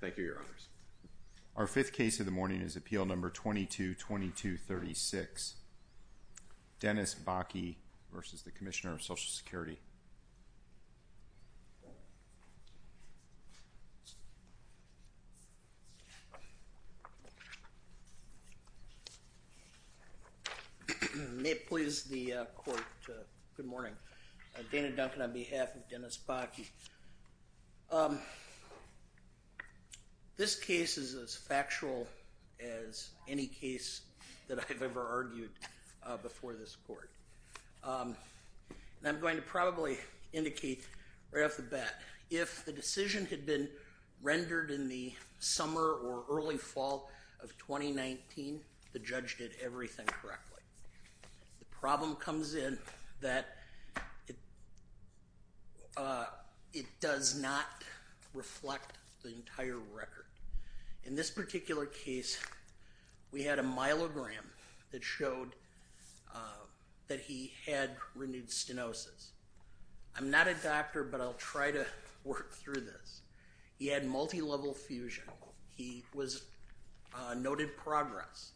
Thank you, Your Honors. Our fifth case of the morning is Appeal No. 222236. Dennis Bakke v. Commissioner of Social Security. May it please the Court, good morning. Dana Duncan on behalf of Dennis Bakke. This case is as factual as any case that I've ever argued before this Court. And I'm going to probably indicate right off the bat, if the decision had been rendered in the summer or early fall of 2019, the judge did everything correctly. The problem comes in that it does not reflect the entire record. In this particular case, we had a myelogram that showed that he had renewed stenosis. I'm not a doctor, but I'll try to work through this. He had multilevel fusion. He was noted progress.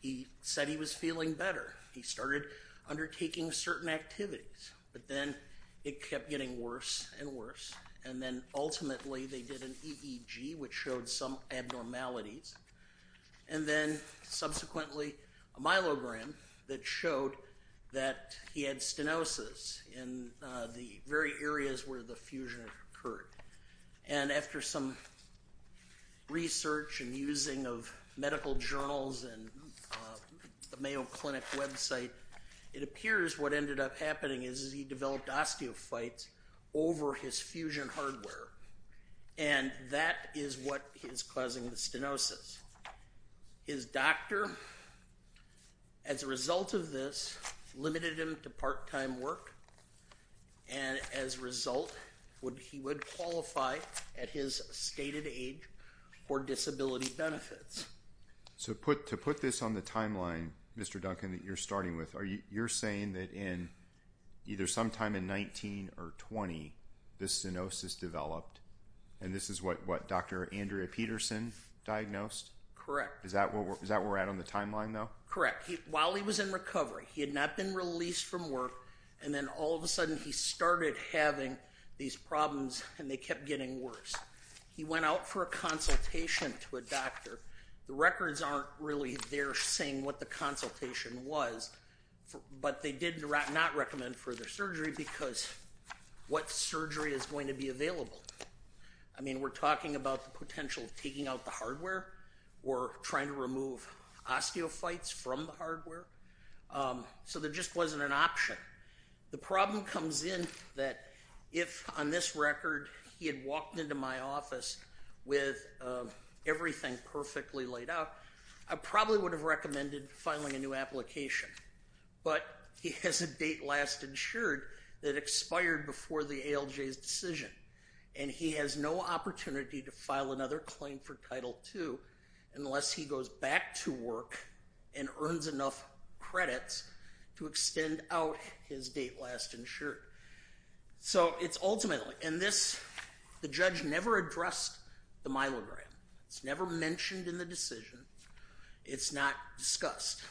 He said he was feeling better. He started undertaking certain activities, but then it kept getting worse and worse. And then, ultimately, they did an EEG, which showed some abnormalities. And then, subsequently, a myelogram that showed that he had stenosis in the very areas where the fusion occurred. And after some research and using of medical journals and the Mayo Clinic website, it appears what ended up happening is he developed osteophytes over his fusion hardware. And that is what is causing the stenosis. His doctor, as a result of this, limited him to part-time work. And, as a result, he would qualify at his stated age for disability benefits. So to put this on the timeline, Mr. Duncan, that you're starting with, you're saying that in either sometime in 19 or 20, the stenosis developed, and this is what Dr. Andrea Peterson diagnosed? Correct. Is that where we're at on the timeline, though? Correct. While he was in recovery, he had not been released from work, and then, all of a sudden, he started having these problems, and they kept getting worse. He went out for a consultation to a doctor. The records aren't really there saying what the consultation was, but they did not recommend further surgery because what surgery is going to be available? I mean, we're talking about the potential of taking out the hardware or trying to remove osteophytes from the hardware. So there just wasn't an option. The problem comes in that if, on this record, he had walked into my office with everything perfectly laid out, I probably would have recommended filing a new application. But he has a date last insured that expired before the ALJ's decision, and he has no opportunity to file another claim for Title II unless he goes back to work and earns enough credits to extend out his date last insured. So it's ultimately, and this, the judge never addressed the myelogram. It's never mentioned in the decision. It's not discussed.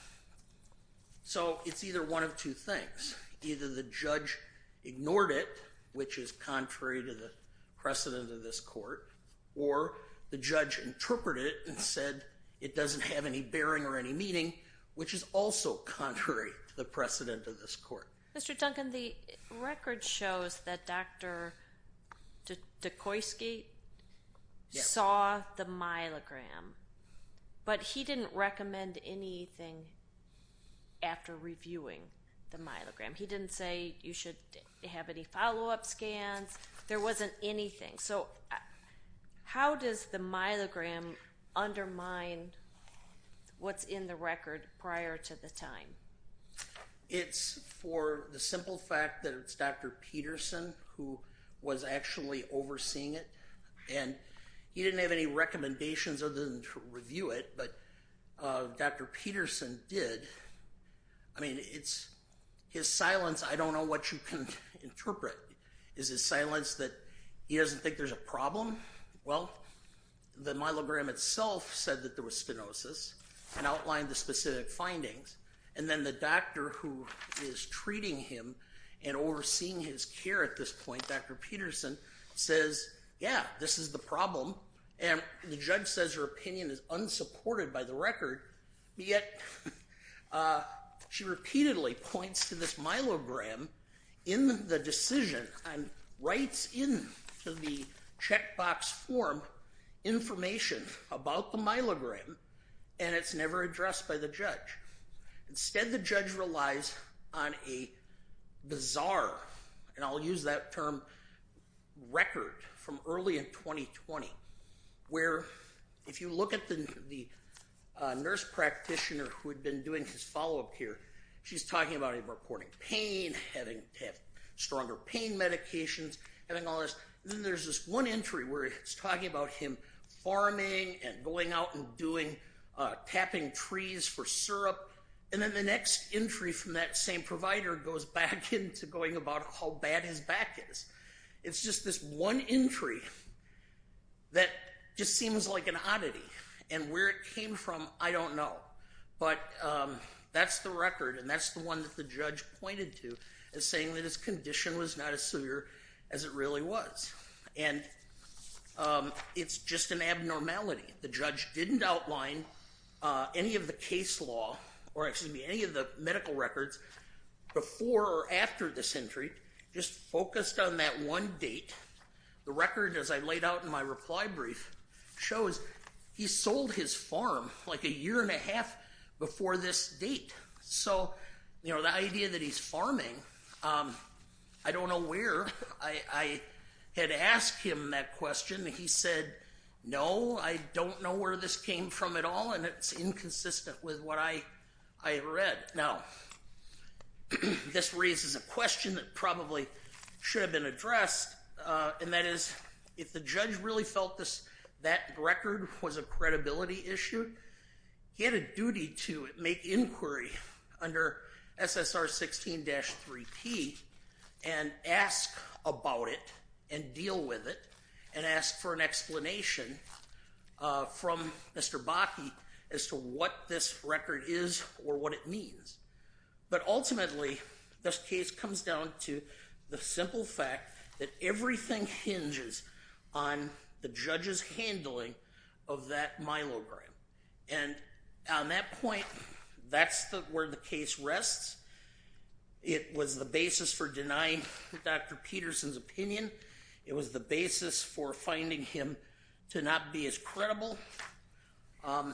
So it's either one of two things. Either the judge ignored it, which is contrary to the precedent of this court, or the judge interpreted it and said it doesn't have any bearing or any meaning, which is also contrary to the precedent of this court. Mr. Duncan, the record shows that Dr. Dukosky saw the myelogram, but he didn't recommend anything after reviewing the myelogram. He didn't say you should have any follow-up scans. There wasn't anything. So how does the myelogram undermine what's in the record prior to the time? It's for the simple fact that it's Dr. Peterson who was actually overseeing it, and he didn't have any recommendations other than to review it, but Dr. Peterson did. I mean, it's his silence, I don't know what you can interpret. Is his silence that he doesn't think there's a problem? Well, the myelogram itself said that there was spinosus and outlined the specific findings, and then the doctor who is treating him and overseeing his care at this point, Dr. Peterson, says, yeah, this is the problem, and the judge says her opinion is unsupported by the record, yet she repeatedly points to this myelogram in the decision and writes into the checkbox form information about the myelogram, and it's never addressed by the judge. Instead, the judge relies on a bizarre, and I'll use that term, record from early in 2020, where if you look at the nurse practitioner who had been doing his follow-up here, she's talking about him reporting pain, having to have stronger pain medications, having all this, and then there's this one entry where it's talking about him farming and going out and doing, tapping trees for syrup, and then the next entry from that same provider goes back into going about how bad his back is. It's just this one entry that just seems like an oddity, and where it came from, I don't know, but that's the record, and that's the one that the judge pointed to as saying that his condition was not as severe as it really was, and it's just an abnormality. The judge didn't outline any of the case law, or excuse me, any of the medical records before or after this entry, just focused on that one date. The record, as I laid out in my reply brief, shows he sold his farm like a year and a half before this date, so the idea that he's farming, I don't know where I had asked him that question. He said, no, I don't know where this came from at all, and it's inconsistent with what I read. Now, this raises a question that probably should have been addressed, and that is, if the judge really felt that record was a credibility issue, he had a duty to make inquiry under SSR 16-3P, and ask about it, and deal with it, and ask for an explanation from Mr. Bakke as to what this record is or what it means. But ultimately, this case comes down to the simple fact that everything hinges on the judge's handling of that myelogram. And on that point, that's where the case rests. It was the basis for denying Dr. Peterson's opinion. It was the basis for finding him to not be as credible. Other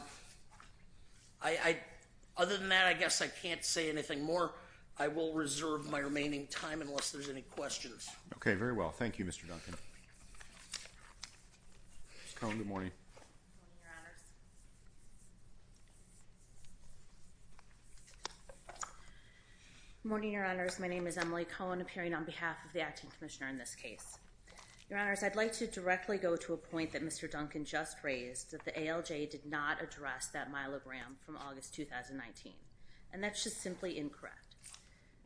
than that, I guess I can't say anything more. I will reserve my remaining time, unless there's any questions. Okay, very well. Thank you, Mr. Duncan. Ms. Cohen, good morning. Good morning, Your Honors. Good morning, Your Honors. My name is Emily Cohen, appearing on behalf of the Acting Commissioner in this case. Your Honors, I'd like to directly go to a point that Mr. Duncan just raised, that the ALJ did not address that myelogram from August 2019. And that's just simply incorrect.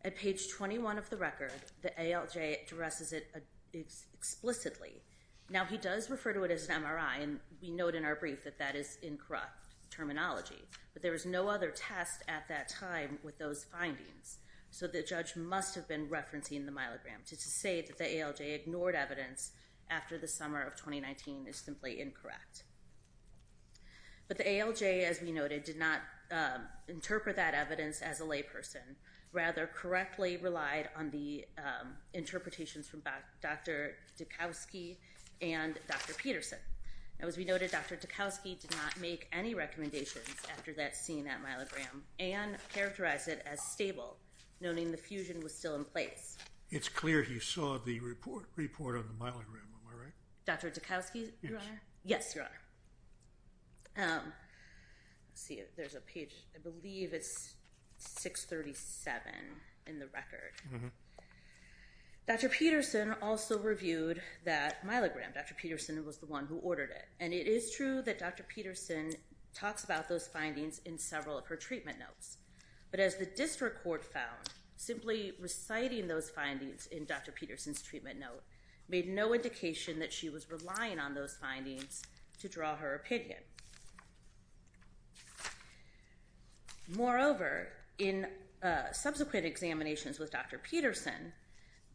At page 21 of the record, the ALJ addresses it explicitly. Now, he does refer to it as an MRI, and we note in our brief that that is incorrect terminology. But there was no other test at that time with those findings. So the judge must have been referencing the myelogram to say that the ALJ ignored evidence after the summer of 2019 is simply incorrect. But the ALJ, as we noted, did not interpret that evidence as a layperson, rather correctly relied on the interpretations from Dr. Dukowski and Dr. Peterson. Now, as we noted, Dr. Dukowski did not make any recommendations after that scene at myelogram and characterized it as stable, noting the fusion was still in place. It's clear he saw the report on the myelogram, am I right? Dr. Dukowski, Your Honor? Yes. Yes, Your Honor. Let's see. There's a page. I believe it's 637 in the record. Dr. Peterson also reviewed that myelogram. Dr. Peterson was the one who ordered it. And it is true that Dr. Peterson talks about those findings in several of her treatment notes. But as the district court found, simply reciting those findings in Dr. Peterson's treatment note made no indication that she was relying on those findings to draw her opinion. Moreover, in subsequent examinations with Dr. Peterson,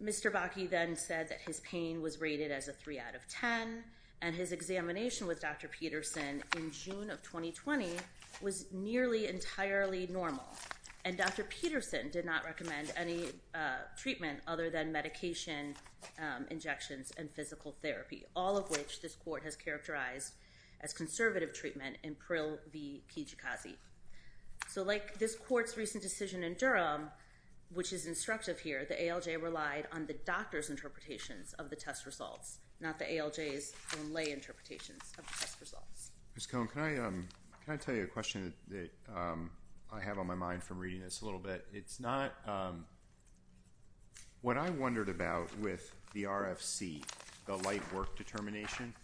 Mr. Bakke then said that his pain was rated as a 3 out of 10. And his examination with Dr. Peterson in June of 2020 was nearly entirely normal. And Dr. Peterson did not recommend any treatment other than medication injections and physical therapy, all of which this court has characterized as conservative treatment in Prill v. Kijikazi. So like this court's recent decision in Durham, which is instructive here, the ALJ relied on the doctor's interpretations of the test results, not the ALJ's own lay interpretations of the test results. Ms. Cohn, can I tell you a question that I have on my mind from reading this a little bit? It's not, what I wondered about with the RFC, the light work determination,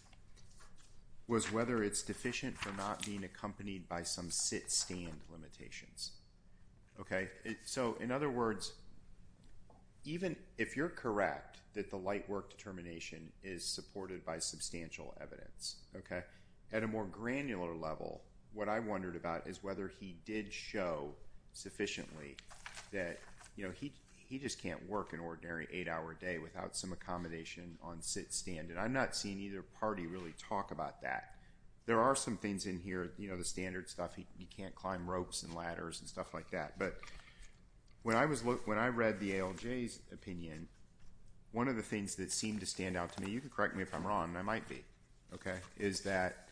was whether it's deficient for not being accompanied by some sit-stand limitations. So in other words, even if you're correct that the light work determination is supported by substantial evidence, at a more granular level, what I wondered about is whether he did show sufficiently that he just can't work an ordinary 8-hour day without some accommodation on sit-stand. And I'm not seeing either party really talk about that. There are some things in here, you know, the standard stuff, he can't climb ropes and ladders and stuff like that. But when I read the ALJ's opinion, one of the things that seemed to stand out to me, and you can correct me if I'm wrong, and I might be, okay, is that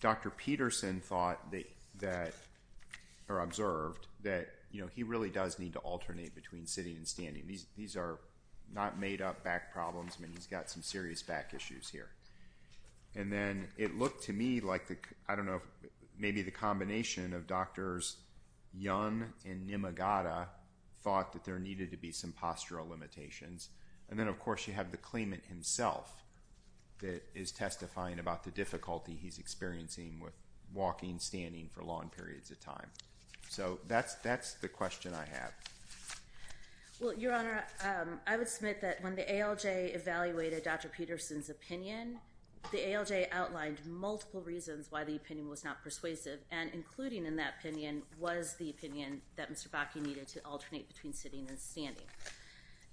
Dr. Peterson thought that, or observed, that he really does need to alternate between sitting and standing. These are not made-up back problems, I mean, he's got some serious back issues here. And then it looked to me like, I don't know, maybe the combination of Drs. Young and Nimagata thought that there needed to be some postural limitations. And then, of course, you have the claimant himself that is testifying about the difficulty he's experiencing with walking, standing for long periods of time. So that's the question I have. Well, Your Honor, I would submit that when the ALJ evaluated Dr. Peterson's opinion, the ALJ outlined multiple reasons why the opinion was not persuasive, and including in that opinion was the opinion that Mr. Bakke needed to alternate between sitting and standing.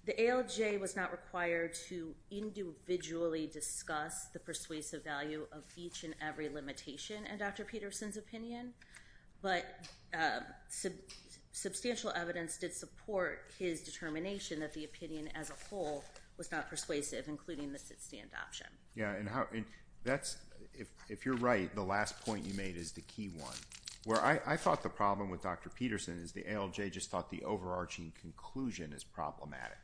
The ALJ was not required to individually discuss the persuasive value of each and every limitation in Dr. Peterson's opinion, but substantial evidence did support his determination that the opinion as a whole was not persuasive, including the sit-stand option. Yeah, and that's, if you're right, the last point you made is the key one. Where I thought the problem with Dr. Peterson is the ALJ just thought the overarching conclusion is problematic,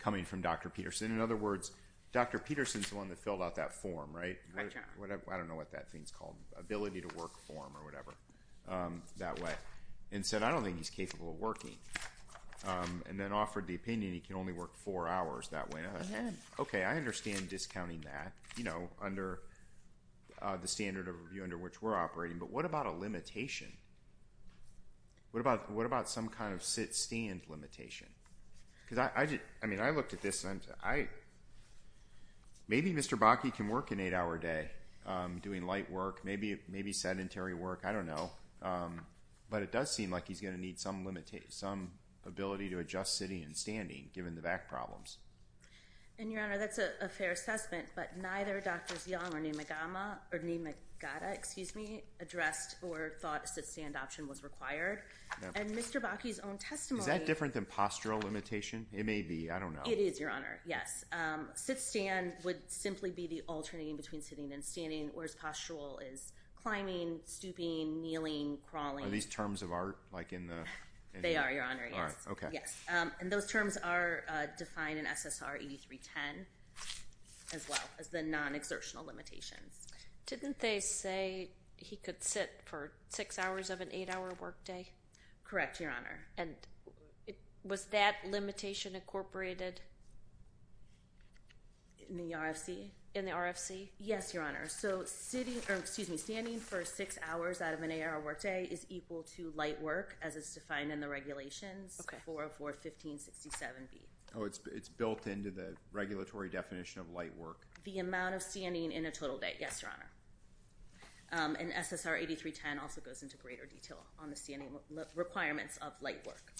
coming from Dr. Peterson. In other words, Dr. Peterson's the one that filled out that form, right? I don't know what that thing's called, ability to work form or whatever, that way, and said, I don't think he's capable of working, and then offered the opinion he can only work four hours that way. Okay, I understand discounting that, you know, under the standard of review under which we're operating, but what about a limitation? What about some kind of sit-stand limitation? Because I looked at this, and I, maybe Mr. Bakke can work an eight-hour day doing light work, maybe sedentary work, I don't know. But it does seem like he's going to need some ability to adjust sitting and standing, given the back problems. And, Your Honor, that's a fair assessment, but neither Drs. Young or Nimagata addressed or thought a sit-stand option was required. And Mr. Bakke's own testimony- Is that different than postural limitation? It may be, I don't know. It is, Your Honor. Yes. Sit-stand would simply be the alternating between sitting and standing, whereas postural is climbing, stooping, kneeling, crawling. Are these terms of art, like in the- They are, Your Honor, yes. All right, okay. Yes. And those terms are defined in SSR 8310, as well, as the non-exertional limitations. Didn't they say he could sit for six hours of an eight-hour workday? Correct, Your Honor. And was that limitation incorporated in the RFC? In the RFC? Yes, Your Honor. So sitting, or excuse me, standing for six hours out of an eight-hour workday is equal to light work, as is defined in the regulations, 404-1567B. Oh, it's built into the regulatory definition of light work? The amount of standing in a total day, yes, Your Honor. And SSR 8310 also goes into greater detail on the standing requirements of light work.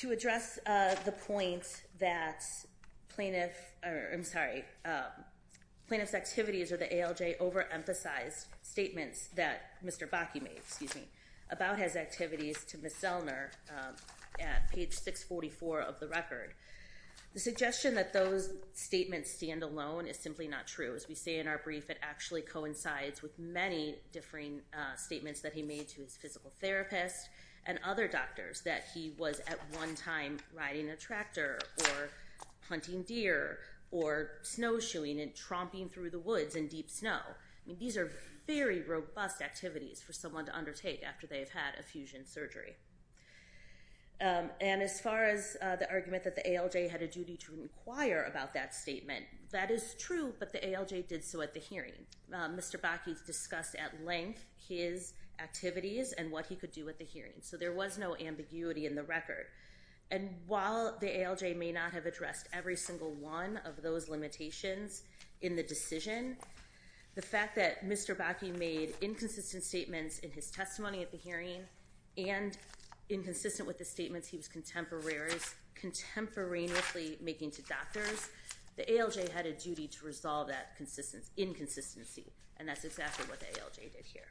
To address the point that plaintiff, I'm sorry, plaintiff's activities or the ALJ overemphasized statements that Mr. Bakke made, excuse me, about his activities to Ms. Zellner at page 644 of the record. The suggestion that those statements stand alone is simply not true. As we say in our brief, it actually coincides with many differing statements that he made to his physical therapist and other doctors, that he was at one time riding a tractor or hunting deer or snowshoeing and tromping through the woods in deep snow. These are very robust activities for someone to undertake after they've had effusion surgery. And as far as the argument that the ALJ had a duty to inquire about that statement, that is true, but the ALJ did so at the hearing. Mr. Bakke discussed at length his activities and what he could do at the hearing. So there was no ambiguity in the record. And while the ALJ may not have addressed every single one of those limitations in the decision, the fact that Mr. Bakke made inconsistent statements in his testimony at the hearing and inconsistent with the statements he was contemporarily making to doctors, the ALJ had a duty to resolve that inconsistency. And that's exactly what the ALJ did here.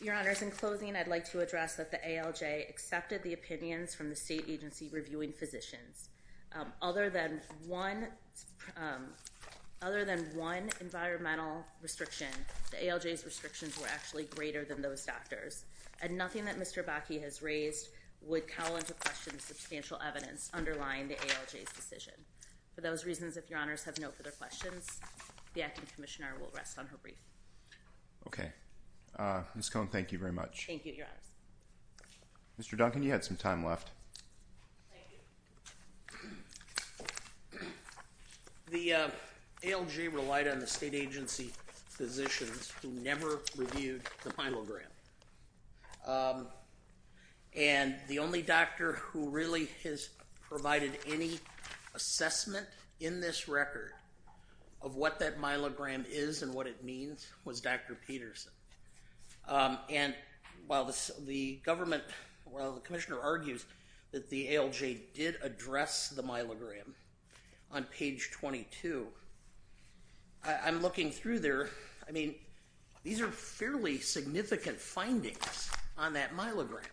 Your Honors, in closing, I'd like to address that the ALJ accepted the opinions from the State Agency Reviewing Physicians. Other than one environmental restriction, the ALJ's restrictions were actually greater than those of doctors. And nothing that Mr. Bakke has raised would call into question the substantial evidence underlying the ALJ's decision. For those reasons, if Your Honors have no further questions, the Acting Commissioner will rest on her brief. Okay. Ms. Cohen, thank you very much. Thank you, Your Honors. Mr. Duncan, you had some time left. Thank you. The ALJ relied on the State Agency Physicians who never reviewed the myelogram. And the only doctor who really has provided any assessment in this record of what that myelogram is and what it means was Dr. Peterson. And while the government, while the Commissioner argues that the ALJ did address the myelogram on page 22, I'm looking through there. I mean, these are fairly significant findings on that myelogram.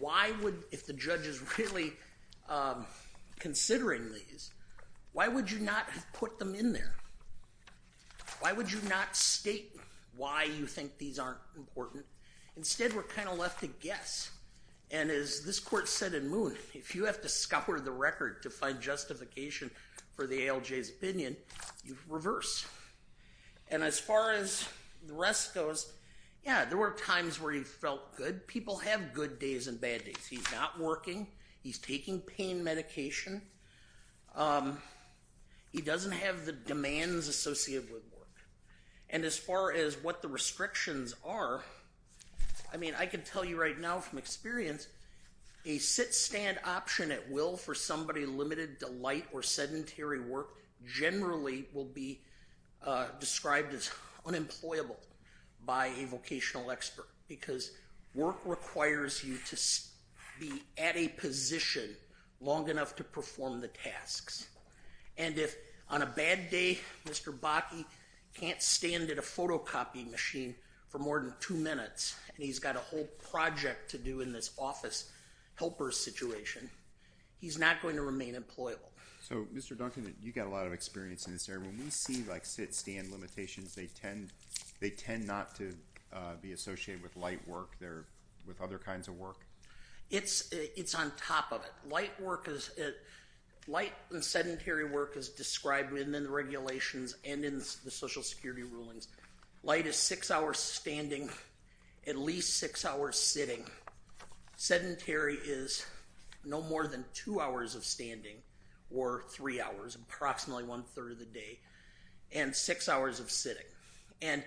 Why would, if the judge is really considering these, why would you not have put them in there? Why would you not state why you think these aren't important? Instead, we're kind of left to guess. And as this Court said in Moon, if you have to scour the record to find justification for the ALJ's opinion, you reverse. And as far as the rest goes, yeah, there were times where he felt good. People have good days and bad days. He's not working. He's taking pain medication. He doesn't have the demands associated with work. And as far as what the restrictions are, I mean, I can tell you right now from experience, a sit-stand option at will for somebody limited to light or sedentary work generally will be described as unemployable by a vocational expert because work requires you to be at a position long enough to perform the tasks. And if on a bad day, Mr. Bakke can't stand at a photocopying machine for more than two minutes and he's got a whole project to do in this office helper situation, he's not going to remain employable. So, Mr. Duncan, you've got a lot of experience in this area. When we see sit-stand limitations, they tend not to be associated with light work. They're with other kinds of work. It's on top of it. Light and sedentary work is described in the regulations and in the Social Security rulings. Light is six hours standing, at least six hours sitting. Sedentary is no more than two hours of standing or three hours, approximately one-third of the day, and six hours of sitting. And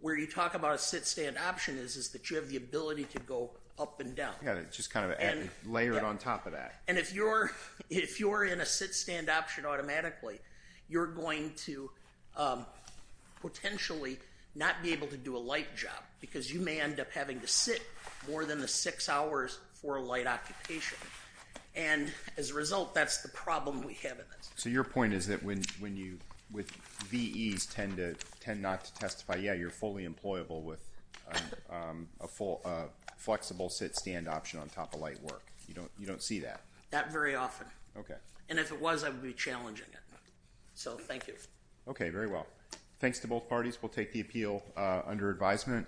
where you talk about a sit-stand option is that you have the ability to go up and down. Yeah, just kind of layer it on top of that. And if you're in a sit-stand option automatically, you're going to potentially not be able to do a light job because you may end up having to sit more than the six hours for a light occupation. And as a result, that's the problem we have in this. So your point is that when VEs tend not to testify, yeah, you're fully employable with a flexible sit-stand option on top of light work. You don't see that? Not very often. Okay. And if it was, I would be challenging it. So thank you. Okay, very well. Thanks to both parties. We'll take the appeal under advisement.